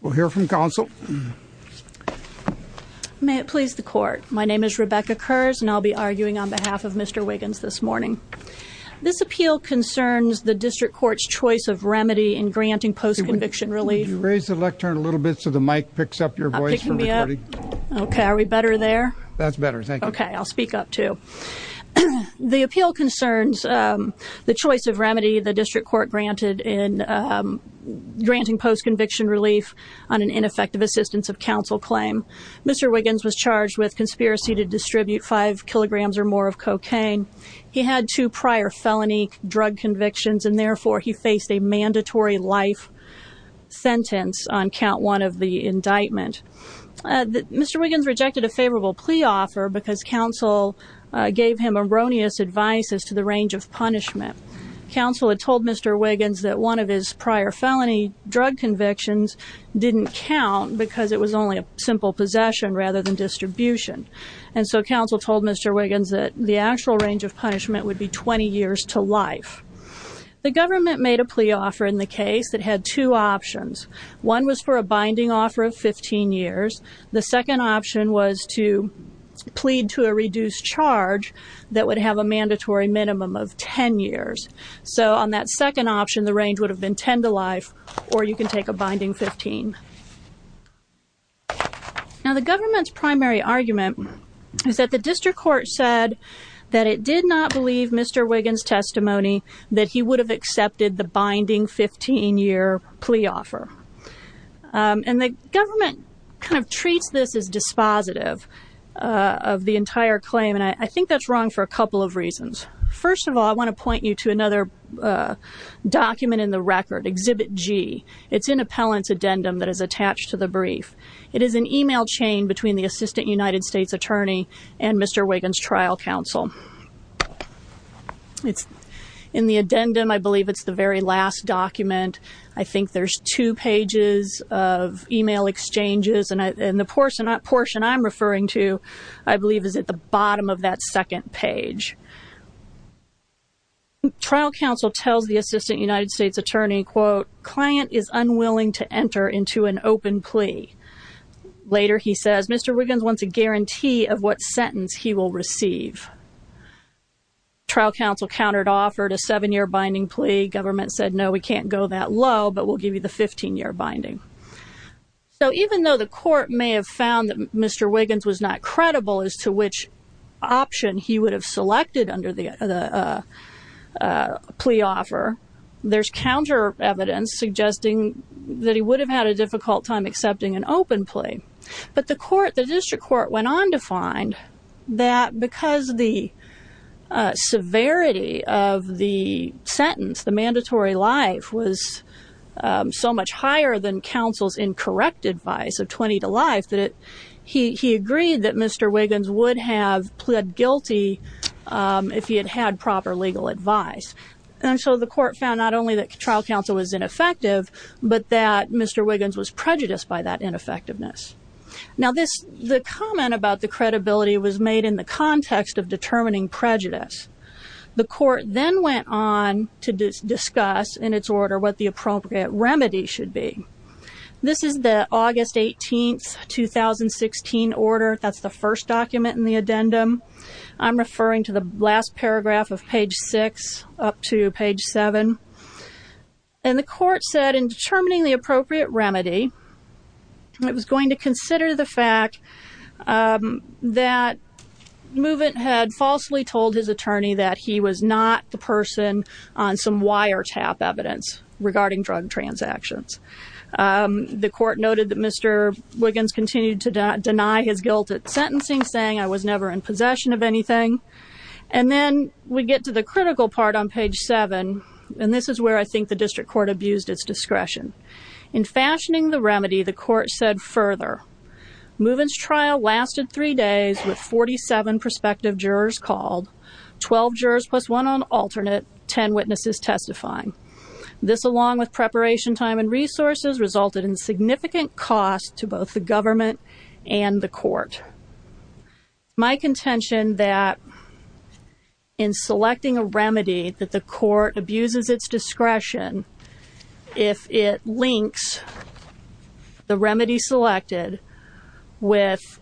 We'll hear from counsel. May it please the court. My name is Rebecca Kurz and I'll be arguing on behalf of Mr. Wiggins this morning. This appeal concerns the district court's choice of remedy in granting post-conviction relief. Could you raise the lectern a little bit so the mic picks up your voice from recording? Okay, are we better there? That's better, thank you. Okay, I'll speak up too. The appeal concerns the choice of remedy the district court granted in granting post-conviction relief on an ineffective assistance of counsel claim. Mr. Wiggins was charged with conspiracy to distribute five kilograms or more of cocaine. He had two prior felony drug convictions and therefore he faced a mandatory life sentence on count one of the indictment. Mr. Wiggins rejected a favorable plea offer because counsel gave him erroneous advice as to the range of punishment. Counsel had told Mr. Wiggins that one of his prior felony drug convictions didn't count because it was only a simple possession rather than distribution. And so counsel told Mr. Wiggins that the actual range of punishment would be 20 years to life. The government made a plea offer in the case that had two options. One was for a binding offer of 15 years. The second option was to plead to a reduced charge that would have a mandatory minimum of 10 years. So on that second option the range would have been 10 to life or you can take a binding 15. Now the government's primary argument is that the district court said that it did not believe Mr. Wiggins' testimony that he would have accepted the binding 15 year plea offer. And the government kind of treats this as dispositive of the entire claim and I think that's wrong for a couple of reasons. First of all I want to point you to another document in the record, Exhibit G. It's in Appellant's addendum that is attached to the brief. It is an email chain between the Assistant United States Attorney and Mr. Wiggins' trial counsel. In the addendum I believe it's the very last document. I think there's two pages of email exchanges and the portion I'm referring to I believe is at the bottom of that second page. Trial counsel tells the Assistant United States Attorney, quote, Client is unwilling to enter into an open plea. Later he says Mr. Wiggins wants a guarantee of what sentence he will receive. Trial counsel countered offered a seven year binding plea. Government said no we can't go that low but we'll give you the 15 year binding. So even though the court may have found that Mr. Wiggins was not credible as to which option he would have selected under the plea offer, there's counter evidence suggesting that he would have had a difficult time accepting an open plea. But the court, the district court went on to find that because the severity of the sentence, the mandatory life, was so much higher than counsel's incorrect advice of 20 to life, that he agreed that Mr. Wiggins would have pled guilty if he had had proper legal advice. And so the court found not only that trial counsel was ineffective but that Mr. Wiggins was prejudiced by that ineffectiveness. Now this, the comment about the credibility was made in the context of determining prejudice. The court then went on to discuss in its order what the appropriate remedy should be. This is the August 18, 2016 order. That's the first document in the addendum. I'm referring to the last paragraph of page 6 up to page 7. And the court said in determining the appropriate remedy, it was going to consider the fact that Movent had falsely told his attorney that he was not the person on some wiretap evidence regarding drug transactions. The court noted that Mr. Wiggins continued to deny his guilt at sentencing, saying I was never in possession of anything. And then we get to the critical part on page 7, and this is where I think the district court abused its discretion. In fashioning the remedy, the court said further, Movent's trial lasted three days with 47 prospective jurors called, 12 jurors plus one on alternate, 10 witnesses testifying. This, along with preparation time and resources, resulted in significant cost to both the government and the court. My contention that in selecting a remedy that the court abuses its discretion, if it links the remedy selected with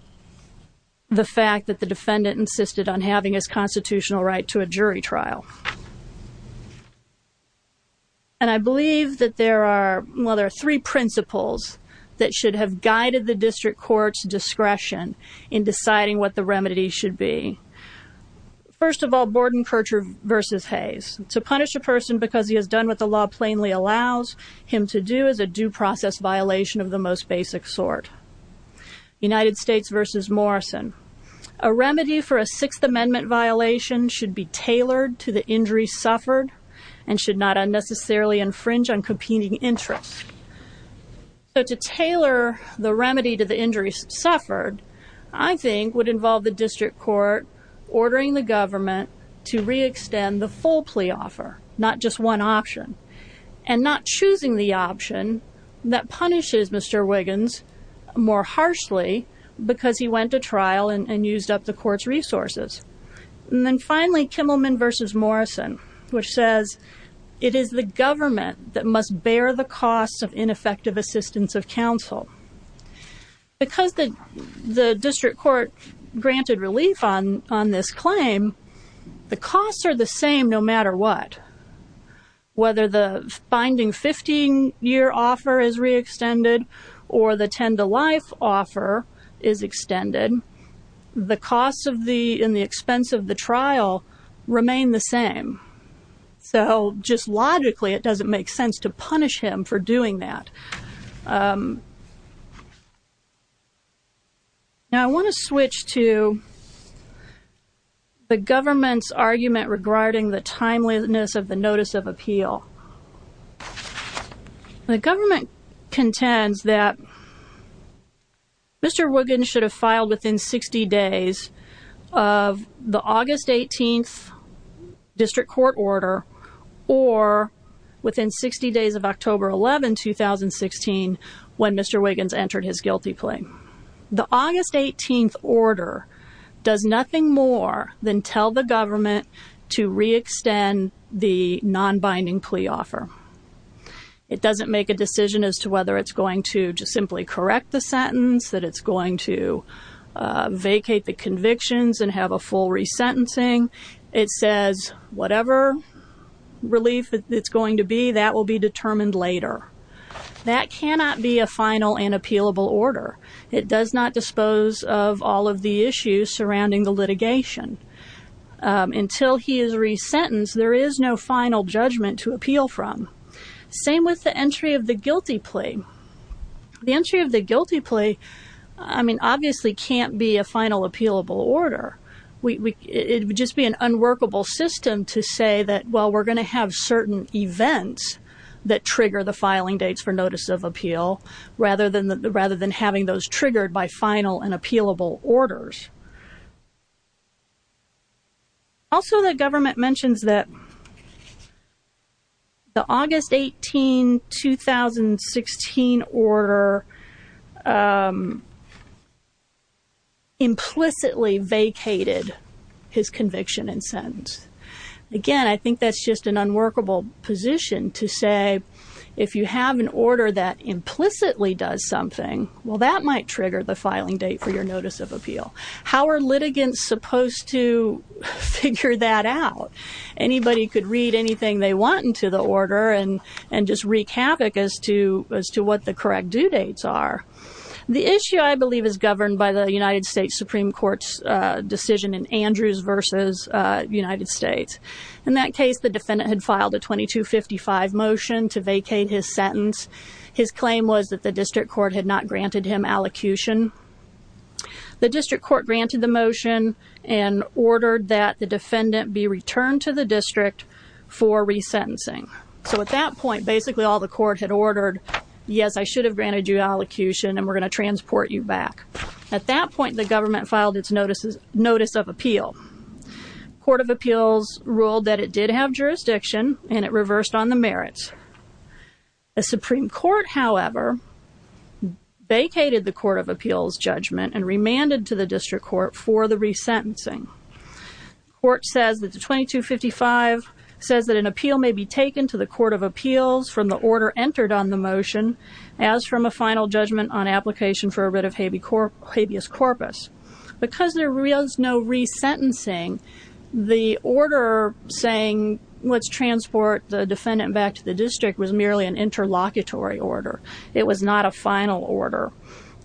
the fact that the defendant insisted on having his constitutional right to a jury trial. And I believe that there are three principles that should have guided the district court's discretion in deciding what the remedy should be. First of all, Borden-Kircher v. Hayes. To punish a person because he has done what the law plainly allows him to do is a due process violation of the most basic sort. United States v. Morrison. A remedy for a Sixth Amendment violation should be tailored to the injury suffered and should not unnecessarily infringe on competing interests. So to tailor the remedy to the injuries suffered, I think, would involve the district court ordering the government to re-extend the full plea offer, not just one option, and not choosing the option that punishes Mr. Wiggins more harshly because he went to trial and used up the court's resources. And then finally, Kimmelman v. Morrison, which says it is the government that must bear the costs of ineffective assistance of counsel. Because the district court granted relief on this claim, the costs are the same no matter what. Whether the binding 15-year offer is re-extended or the 10-to-life offer is extended, the costs in the expense of the trial remain the same. So just logically, it doesn't make sense to punish him for doing that. Now I want to switch to the government's argument regarding the timeliness of the Notice of Appeal. The government contends that Mr. Wiggins should have filed within 60 days of the August 18th district court order, or within 60 days of October 11, 2016, when Mr. Wiggins entered his guilty plea. The August 18th order does nothing more than tell the government to re-extend the non-binding plea offer. It doesn't make a decision as to whether it's going to just simply correct the sentence, that it's going to vacate the convictions and have a full re-sentencing. It says whatever relief it's going to be, that will be determined later. That cannot be a final and appealable order. It does not dispose of all of the issues surrounding the litigation. Until he is re-sentenced, there is no final judgment to appeal from. Same with the entry of the guilty plea. The entry of the guilty plea, I mean, obviously can't be a final appealable order. It would just be an unworkable system to say that, well, we're going to have certain events that trigger the filing dates for Notice of Appeal, rather than having those triggered by final and appealable orders. Also, the government mentions that the August 18, 2016 order implicitly vacated his conviction and sentence. Again, I think that's just an unworkable position to say, if you have an order that implicitly does something, well, that might trigger the filing date for your Notice of Appeal. How are litigants supposed to figure that out? Anybody could read anything they want into the order and just wreak havoc as to what the correct due dates are. The issue, I believe, is governed by the United States Supreme Court's decision in Andrews v. United States. In that case, the defendant had filed a 2255 motion to vacate his sentence. His claim was that the district court had not granted him allocution. The district court granted the motion and ordered that the defendant be returned to the district for resentencing. So at that point, basically all the court had ordered, yes, I should have granted you allocution and we're going to transport you back. At that point, the government filed its Notice of Appeal. Court of Appeals ruled that it did have jurisdiction and it reversed on the merits. The Supreme Court, however, vacated the Court of Appeals judgment and remanded to the district court for the resentencing. The court says that the 2255 says that an appeal may be taken to the Court of Appeals from the order entered on the motion, as from a final judgment on application for a writ of habeas corpus. Because there was no resentencing, the order saying let's transport the defendant back to the district was merely an interlocutory order. It was not a final order.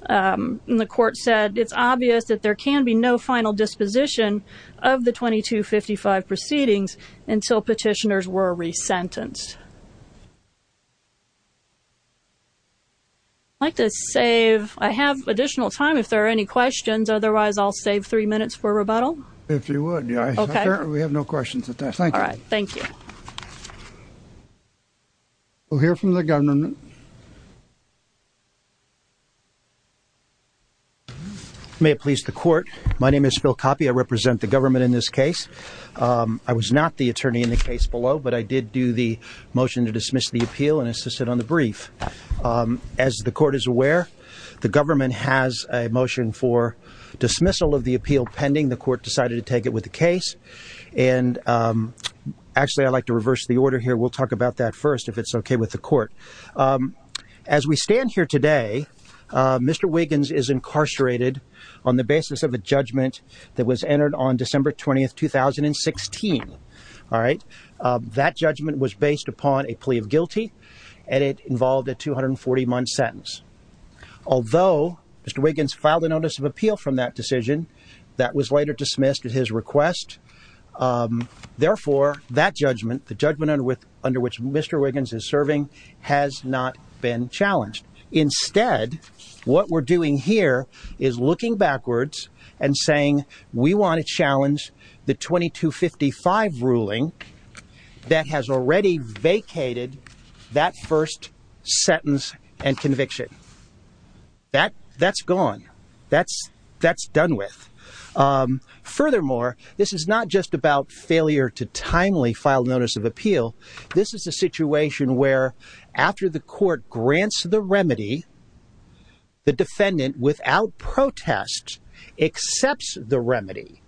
And the court said it's obvious that there can be no final disposition of the 2255 proceedings until petitioners were resentenced. I'd like to save. I have additional time if there are any questions. Otherwise, I'll save three minutes for rebuttal. If you would. We have no questions at this time. All right. Thank you. We'll hear from the government. May it please the court. My name is Phil Coppi. I represent the government in this case. I was not the attorney in the case below, but I did do the motion to dismiss the appeal and assisted on the brief. As the court is aware, the government has a motion for dismissal of the appeal pending. The court decided to take it with the case. And actually, I'd like to reverse the order here. We'll talk about that first, if it's OK with the court. As we stand here today, Mr. Wiggins is incarcerated on the basis of a judgment that was entered on December 20th, 2016. All right. That judgment was based upon a plea of guilty, and it involved a 240-month sentence. Although Mr. Wiggins filed a notice of appeal from that decision, that was later dismissed at his request. Therefore, that judgment, the judgment under which Mr. Wiggins is serving, has not been challenged. Instead, what we're doing here is looking backwards and saying we want to challenge the 2255 ruling that has already vacated that first sentence and conviction. That's gone. That's done with. Furthermore, this is not just about failure to timely file notice of appeal. This is a situation where, after the court grants the remedy, the defendant, without protest, accepts the remedy.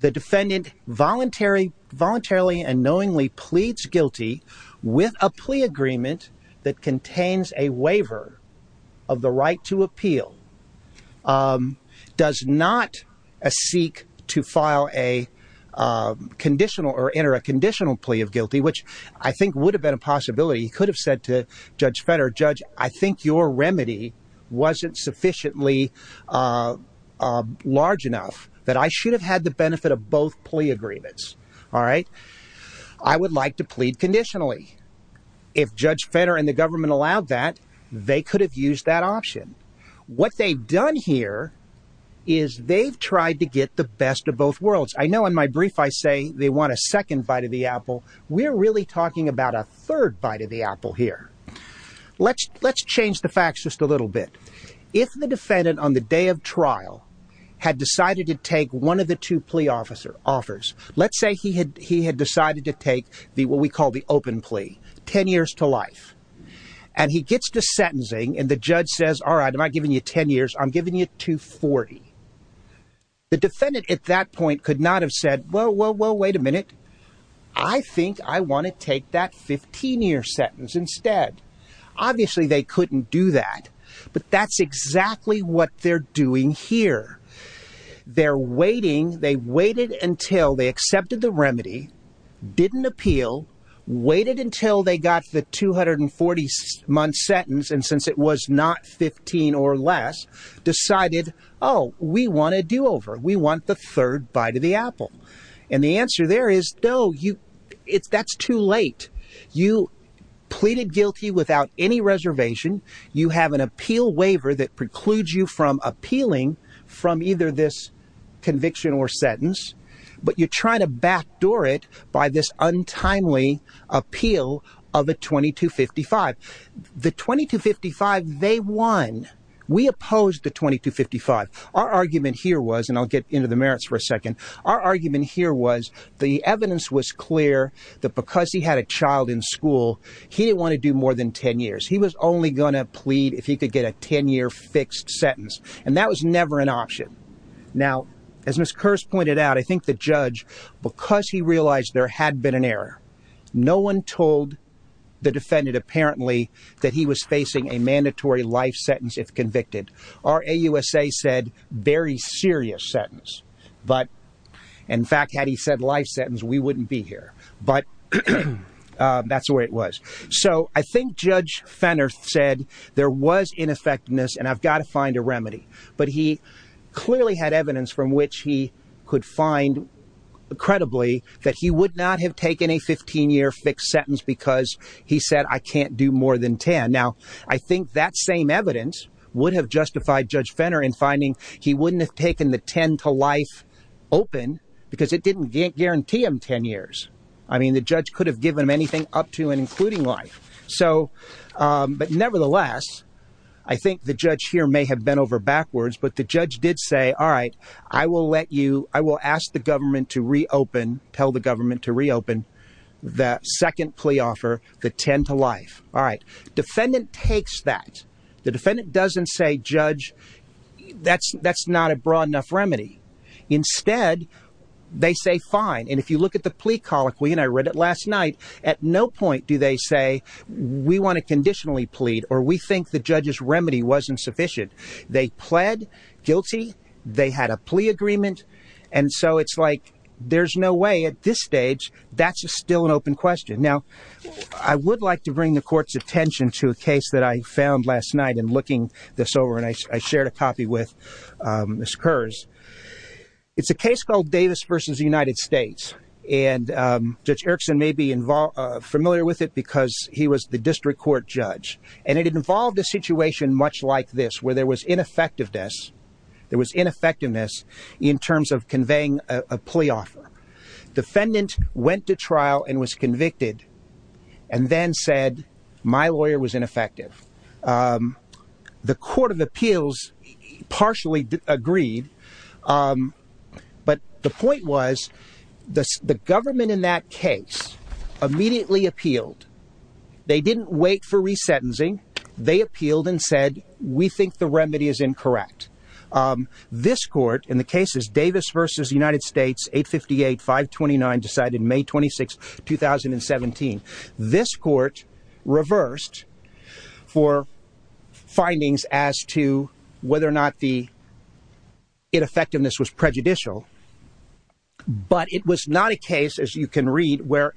The defendant voluntarily and knowingly pleads guilty with a plea agreement that contains a waiver of the right to appeal. Does not seek to file a conditional or enter a conditional plea of guilty, which I think would have been a possibility. He could have said to Judge Fetter, Judge, I think your remedy wasn't sufficiently large enough that I should have had the benefit of both plea agreements. All right. I would like to plead conditionally. If Judge Fetter and the government allowed that, they could have used that option. What they've done here is they've tried to get the best of both worlds. I know in my brief, I say they want a second bite of the apple. We're really talking about a third bite of the apple here. Let's let's change the facts just a little bit. If the defendant on the day of trial had decided to take one of the two plea officer offers, let's say he had he had decided to take the what we call the open plea 10 years to life. And he gets to sentencing and the judge says, all right, am I giving you 10 years? I'm giving you 240. The defendant at that point could not have said, well, well, well, wait a minute. I think I want to take that 15 year sentence instead. Obviously, they couldn't do that. But that's exactly what they're doing here. They're waiting. They waited until they accepted the remedy, didn't appeal, waited until they got the 240 month sentence. And since it was not 15 or less, decided, oh, we want to do over. We want the third bite of the apple. And the answer there is, no, you it's that's too late. You pleaded guilty without any reservation. You have an appeal waiver that precludes you from appealing from either this conviction or sentence. But you're trying to backdoor it by this untimely appeal of a 2255. The 2255 they won. We opposed the 2255. Our argument here was and I'll get into the merits for a second. Our argument here was the evidence was clear that because he had a child in school, he didn't want to do more than 10 years. He was only going to plead if he could get a 10 year fixed sentence. And that was never an option. Now, as Miss Curse pointed out, I think the judge, because he realized there had been an error. No one told the defendant, apparently, that he was facing a mandatory life sentence if convicted. Our AUSA said very serious sentence. But in fact, had he said life sentence, we wouldn't be here. But that's the way it was. So I think Judge Fenner said there was ineffectiveness and I've got to find a remedy. But he clearly had evidence from which he could find credibly that he would not have taken a 15 year fixed sentence because he said I can't do more than 10. Now, I think that same evidence would have justified Judge Fenner in finding he wouldn't have taken the 10 to life open because it didn't guarantee him 10 years. I mean, the judge could have given him anything up to and including life. So but nevertheless, I think the judge here may have been over backwards. But the judge did say, all right, I will let you I will ask the government to reopen, tell the government to reopen the second plea offer, the 10 to life. All right. Defendant takes that. The defendant doesn't say, Judge, that's that's not a broad enough remedy. Instead, they say fine. And if you look at the plea colloquy and I read it last night, at no point do they say we want to conditionally plead or we think the judge's remedy wasn't sufficient. They pled guilty. They had a plea agreement. And so it's like there's no way at this stage that's still an open question. Now, I would like to bring the court's attention to a case that I found last night and looking this over. And I shared a copy with this curse. It's a case called Davis versus the United States. And Judge Erickson may be familiar with it because he was the district court judge. And it involved a situation much like this where there was ineffectiveness. There was ineffectiveness in terms of conveying a plea offer. Defendant went to trial and was convicted and then said my lawyer was ineffective. The court of appeals partially agreed. But the point was the government in that case immediately appealed. They didn't wait for resentencing. They appealed and said, we think the remedy is incorrect. This court, in the cases Davis versus the United States, 858-529, decided May 26, 2017. This court reversed for findings as to whether or not the ineffectiveness was prejudicial. But it was not a case, as you can read, where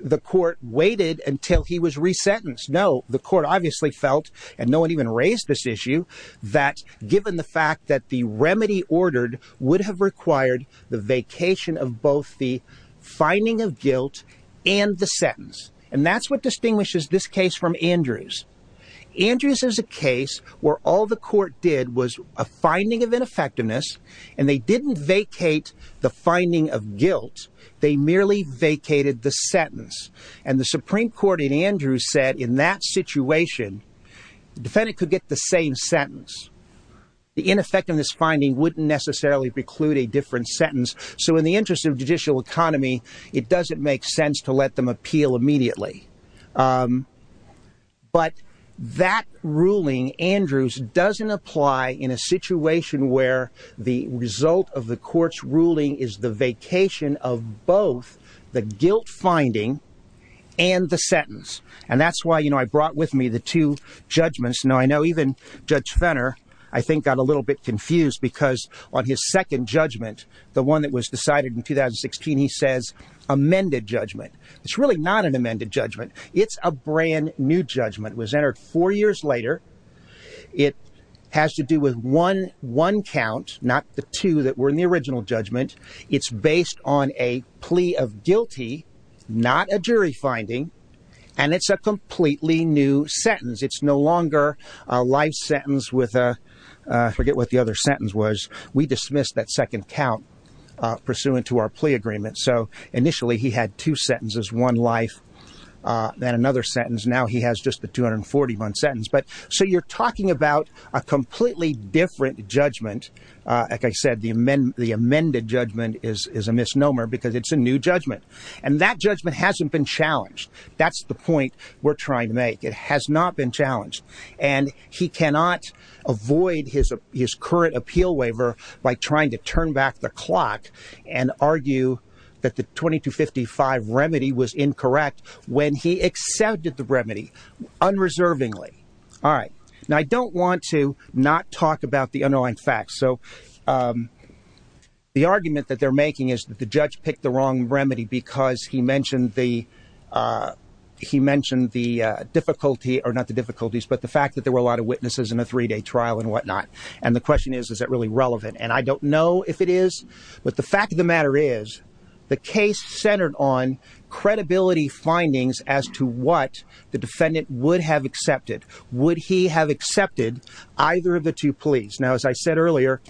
the court waited until he was resentenced. No, the court obviously felt, and no one even raised this issue, that given the fact that the remedy ordered would have required the vacation of both the finding of guilt and the sentence. And that's what distinguishes this case from Andrews. Andrews is a case where all the court did was a finding of ineffectiveness. And they didn't vacate the finding of guilt. They merely vacated the sentence. And the Supreme Court in Andrews said, in that situation, the defendant could get the same sentence. The ineffectiveness finding wouldn't necessarily preclude a different sentence. So in the interest of judicial economy, it doesn't make sense to let them appeal immediately. But that ruling, Andrews, doesn't apply in a situation where the result of the court's ruling is the vacation of both the guilt finding and the sentence. And that's why, you know, I brought with me the two judgments. Now, I know even Judge Fenner, I think, got a little bit confused because on his second judgment, the one that was decided in 2016, he says, amended judgment. It's really not an amended judgment. It's a brand new judgment. It was entered four years later. It has to do with one count, not the two that were in the original judgment. It's based on a plea of guilty, not a jury finding. And it's a completely new sentence. It's no longer a life sentence with a—I forget what the other sentence was. We dismissed that second count pursuant to our plea agreement. So initially he had two sentences, one life, then another sentence. Now he has just the 241 sentence. So you're talking about a completely different judgment. Like I said, the amended judgment is a misnomer because it's a new judgment. And that judgment hasn't been challenged. That's the point we're trying to make. It has not been challenged. And he cannot avoid his current appeal waiver by trying to turn back the clock and argue that the 2255 remedy was incorrect when he accepted the remedy unreservingly. All right. Now I don't want to not talk about the underlying facts. So the argument that they're making is that the judge picked the wrong remedy because he mentioned the difficulty—or not the difficulties, but the fact that there were a lot of witnesses in a three-day trial and whatnot. And the question is, is that really relevant? And I don't know if it is, but the fact of the matter is the case centered on credibility findings as to what the defendant would have accepted. Would he have accepted either of the two pleas? Now, as I said earlier,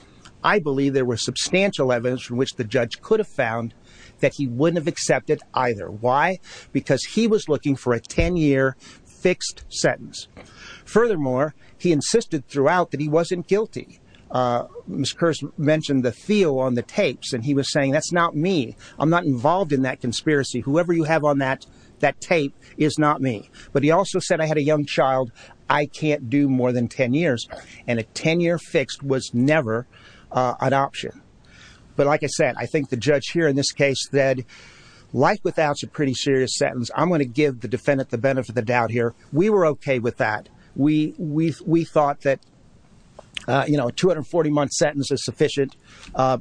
I believe there was substantial evidence from which the judge could have found that he wouldn't have accepted either. Why? Because he was looking for a 10-year fixed sentence. Furthermore, he insisted throughout that he wasn't guilty. Ms. Kurz mentioned the feel on the tapes, and he was saying, that's not me. I'm not involved in that conspiracy. Whoever you have on that tape is not me. But he also said, I had a young child. I can't do more than 10 years. And a 10-year fixed was never an option. But like I said, I think the judge here in this case said, life without is a pretty serious sentence. I'm going to give the defendant the benefit of the doubt here. We were okay with that. We thought that a 240-month sentence is sufficient.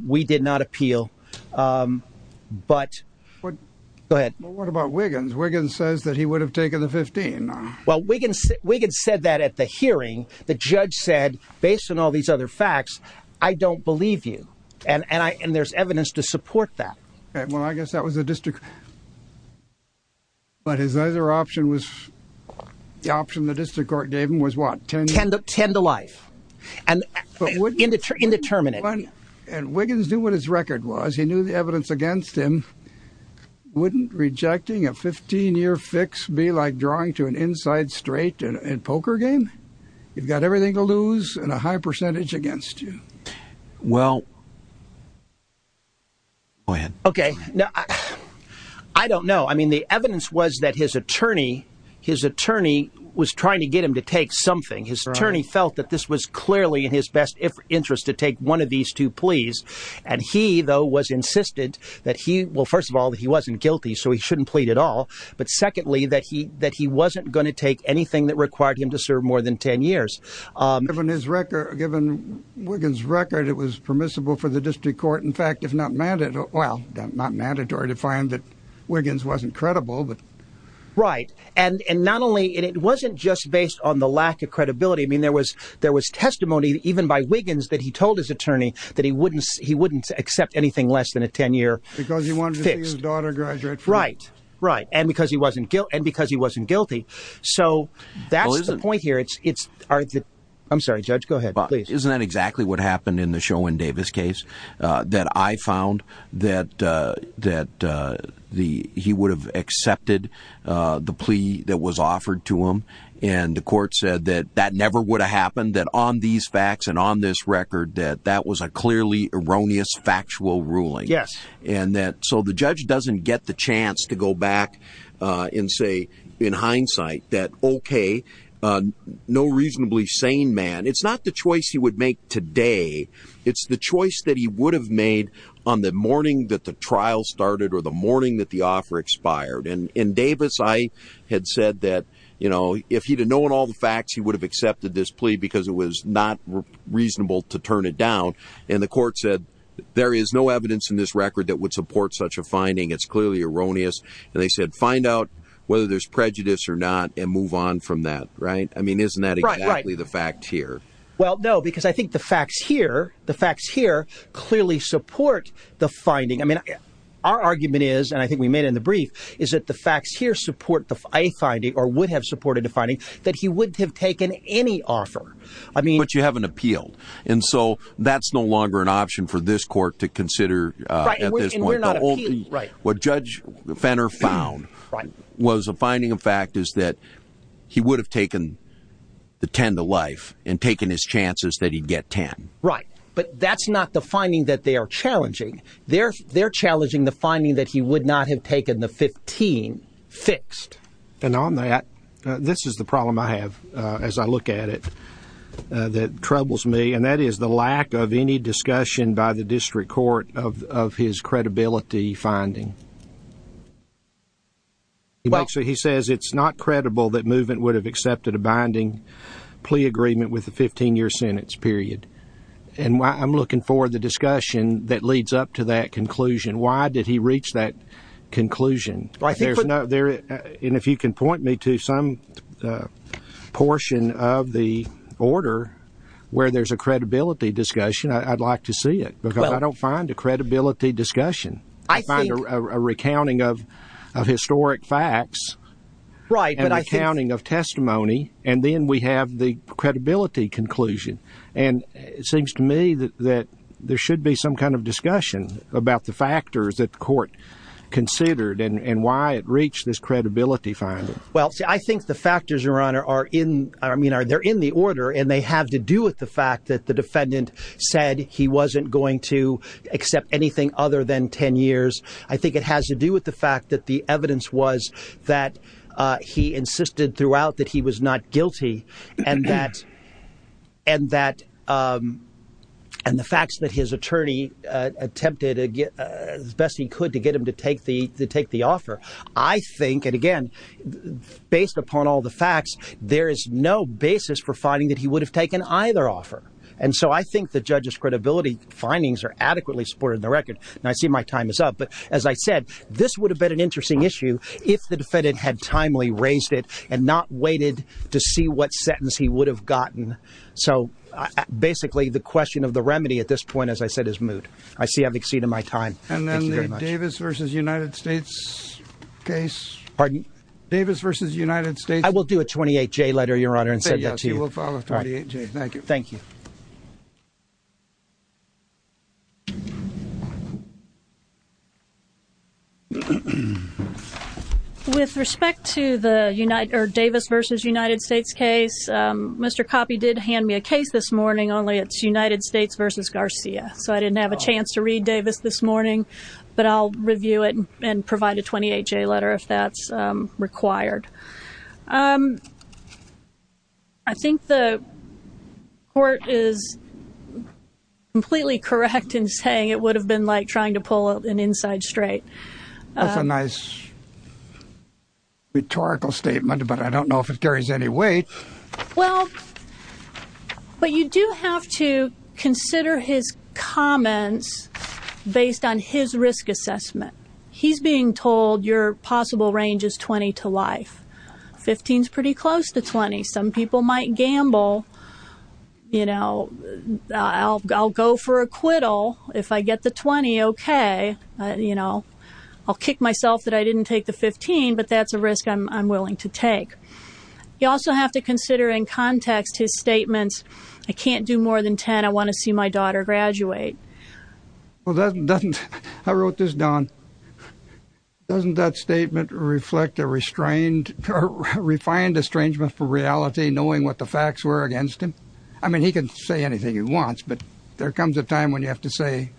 We did not appeal. But—go ahead. But what about Wiggins? Wiggins says that he would have taken the 15. Well, Wiggins said that at the hearing. The judge said, based on all these other facts, I don't believe you. And there's evidence to support that. Well, I guess that was the district— But his other option was—the option the district court gave him was what? 10 to life. And indeterminate. And Wiggins knew what his record was. He knew the evidence against him. Wouldn't rejecting a 15-year fix be like drawing to an inside straight in a poker game? You've got everything to lose and a high percentage against you. Well—go ahead. Okay. I don't know. I mean, the evidence was that his attorney was trying to get him to take something. His attorney felt that this was clearly in his best interest to take one of these two pleas. And he, though, was insistent that he—well, first of all, that he wasn't guilty, so he shouldn't plead at all. But secondly, that he wasn't going to take anything that required him to serve more than 10 years. Given his record—given Wiggins' record, it was permissible for the district court, in fact, if not mandatory— well, not mandatory to find that Wiggins wasn't credible, but— Right. And not only—and it wasn't just based on the lack of credibility. I mean, there was testimony even by Wiggins that he told his attorney that he wouldn't accept anything less than a 10-year fix. Because he wanted to see his daughter graduate from— Right, right. And because he wasn't guilty. So that's the point here. I'm sorry, Judge. Go ahead, please. Isn't that exactly what happened in the Sherwin Davis case? That I found that he would have accepted the plea that was offered to him. And the court said that that never would have happened, that on these facts and on this record, that that was a clearly erroneous factual ruling. Yes. And that—so the judge doesn't get the chance to go back and say, in hindsight, that, okay, no reasonably sane man. It's not the choice he would make today. It's the choice that he would have made on the morning that the trial started or the morning that the offer expired. And in Davis, I had said that, you know, if he had known all the facts, he would have accepted this plea because it was not reasonable to turn it down. And the court said, there is no evidence in this record that would support such a finding. It's clearly erroneous. And they said, find out whether there's prejudice or not and move on from that, right? I mean, isn't that exactly the fact here? Well, no, because I think the facts here clearly support the finding. I mean, our argument is, and I think we made it in the brief, is that the facts here support a finding or would have supported a finding that he wouldn't have taken any offer. But you haven't appealed. And so that's no longer an option for this court to consider at this point. Right, and we're not appealing. What Judge Fenner found was a finding of fact is that he would have taken the 10 to life and taken his chances that he'd get 10. Right. But that's not the finding that they are challenging. They're challenging the finding that he would not have taken the 15 fixed. And on that, this is the problem I have as I look at it that troubles me. And that is the lack of any discussion by the district court of his credibility finding. He says it's not credible that movement would have accepted a binding plea agreement with a 15-year sentence, period. And I'm looking for the discussion that leads up to that conclusion. Why did he reach that conclusion? And if you can point me to some portion of the order where there's a credibility discussion, I'd like to see it. Because I don't find a credibility discussion. I find a recounting of historic facts and a recounting of testimony. And then we have the credibility conclusion. And it seems to me that there should be some kind of discussion about the factors that the court considered and why it reached this credibility finding. Well, I think the factors, Your Honor, are in the order and they have to do with the fact that the defendant said he wasn't going to accept anything other than 10 years. I think it has to do with the fact that the evidence was that he insisted throughout that he was not guilty and the facts that his attorney attempted as best he could to get him to take the offer. I think, and again, based upon all the facts, there is no basis for finding that he would have taken either offer. And so I think the judge's credibility findings are adequately supported in the record. And I see my time is up. But as I said, this would have been an interesting issue if the defendant had timely raised it and not waited to see what sentence he would have gotten. So, basically, the question of the remedy at this point, as I said, is moot. I see I've exceeded my time. And then the Davis versus United States case. Pardon? Davis versus United States. I will do a 28-J letter, Your Honor, and send that to you. Yes, you will file a 28-J. Thank you. Thank you. With respect to the Davis versus United States case, Mr. Coppe did hand me a case this morning, only it's United States versus Garcia. So I didn't have a chance to read Davis this morning. But I'll review it and provide a 28-J letter if that's required. I think the court is completely correct in saying it would have been like trying to pull an inside straight. That's a nice rhetorical statement, but I don't know if it carries any weight. Well, but you do have to consider his comments based on his risk assessment. He's being told your possible range is 20 to life. 15 is pretty close to 20. Some people might gamble, you know, I'll go for a quiddle if I get the 20, okay. You know, I'll kick myself that I didn't take the 15, but that's a risk I'm willing to take. You also have to consider in context his statements, I can't do more than 10. I want to see my daughter graduate. I wrote this down. Doesn't that statement reflect a refined estrangement for reality, knowing what the facts were against him? I mean, he can say anything he wants, but there comes a time when you have to say,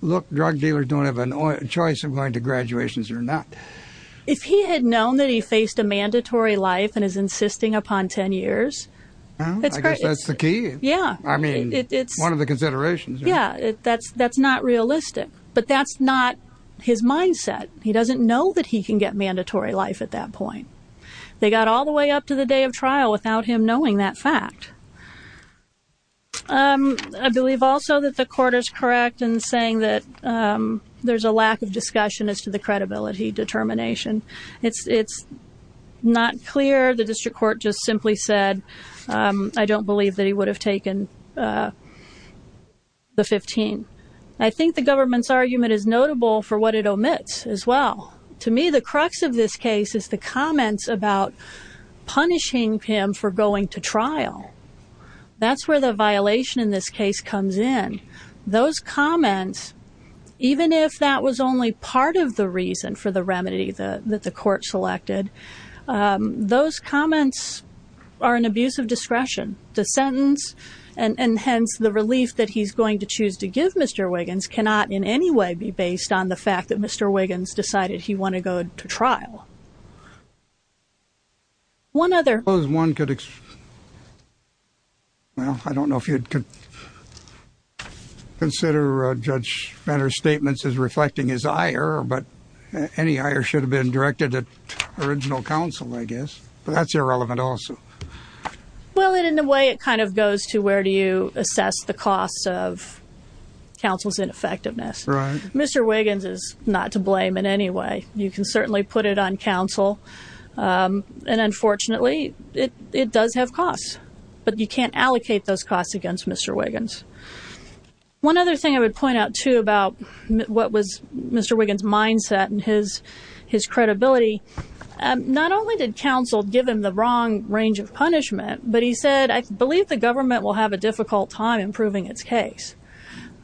look, drug dealers don't have a choice of going to graduations or not. If he had known that he faced a mandatory life and is insisting upon 10 years. I guess that's the key. Yeah. I mean, it's one of the considerations. Yeah, that's not realistic, but that's not his mindset. He doesn't know that he can get mandatory life at that point. They got all the way up to the day of trial without him knowing that fact. I believe also that the court is correct in saying that there's a lack of discussion as to the credibility determination. It's not clear. The district court just simply said, I don't believe that he would have taken the 15. I think the government's argument is notable for what it omits as well. To me, the crux of this case is the comments about punishing him for going to trial. That's where the violation in this case comes in. Those comments, even if that was only part of the reason for the remedy that the court selected, those comments are an abuse of discretion. The sentence and hence the relief that he's going to choose to give Mr. Wiggins cannot in any way be based on the fact that Mr. Wiggins decided he wanted to go to trial. Well, I don't know if you'd consider Judge Benner's statements as reflecting his ire, but any ire should have been directed at original counsel, I guess. But that's irrelevant also. Well, in a way, it kind of goes to where do you assess the cost of counsel's ineffectiveness? Mr. Wiggins is not to blame in any way. You can certainly put it on counsel. And unfortunately, it does have costs, but you can't allocate those costs against Mr. Wiggins. One other thing I would point out, too, about what was Mr. Wiggins' mindset and his credibility, not only did counsel give him the wrong range of punishment, but he said, I believe the government will have a difficult time improving its case.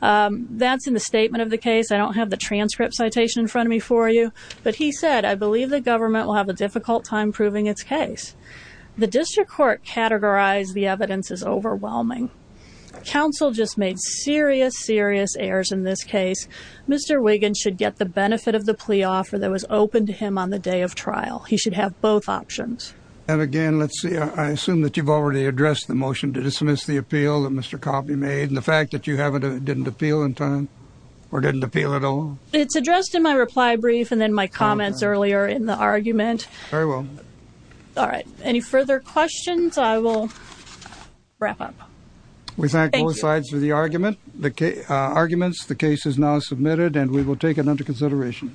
That's in the statement of the case. I don't have the transcript citation in front of me for you. But he said, I believe the government will have a difficult time proving its case. The district court categorized the evidence as overwhelming. Counsel just made serious, serious errors in this case. Mr. Wiggins should get the benefit of the plea offer that was open to him on the day of trial. He should have both options. And again, let's see, I assume that you've already addressed the motion to dismiss the appeal that Mr. Wiggins made and the fact that you didn't appeal in time or didn't appeal at all? It's addressed in my reply brief and then my comments earlier in the argument. Very well. All right. Any further questions? I will wrap up. We thank both sides for the arguments. The case is now submitted, and we will take it under consideration.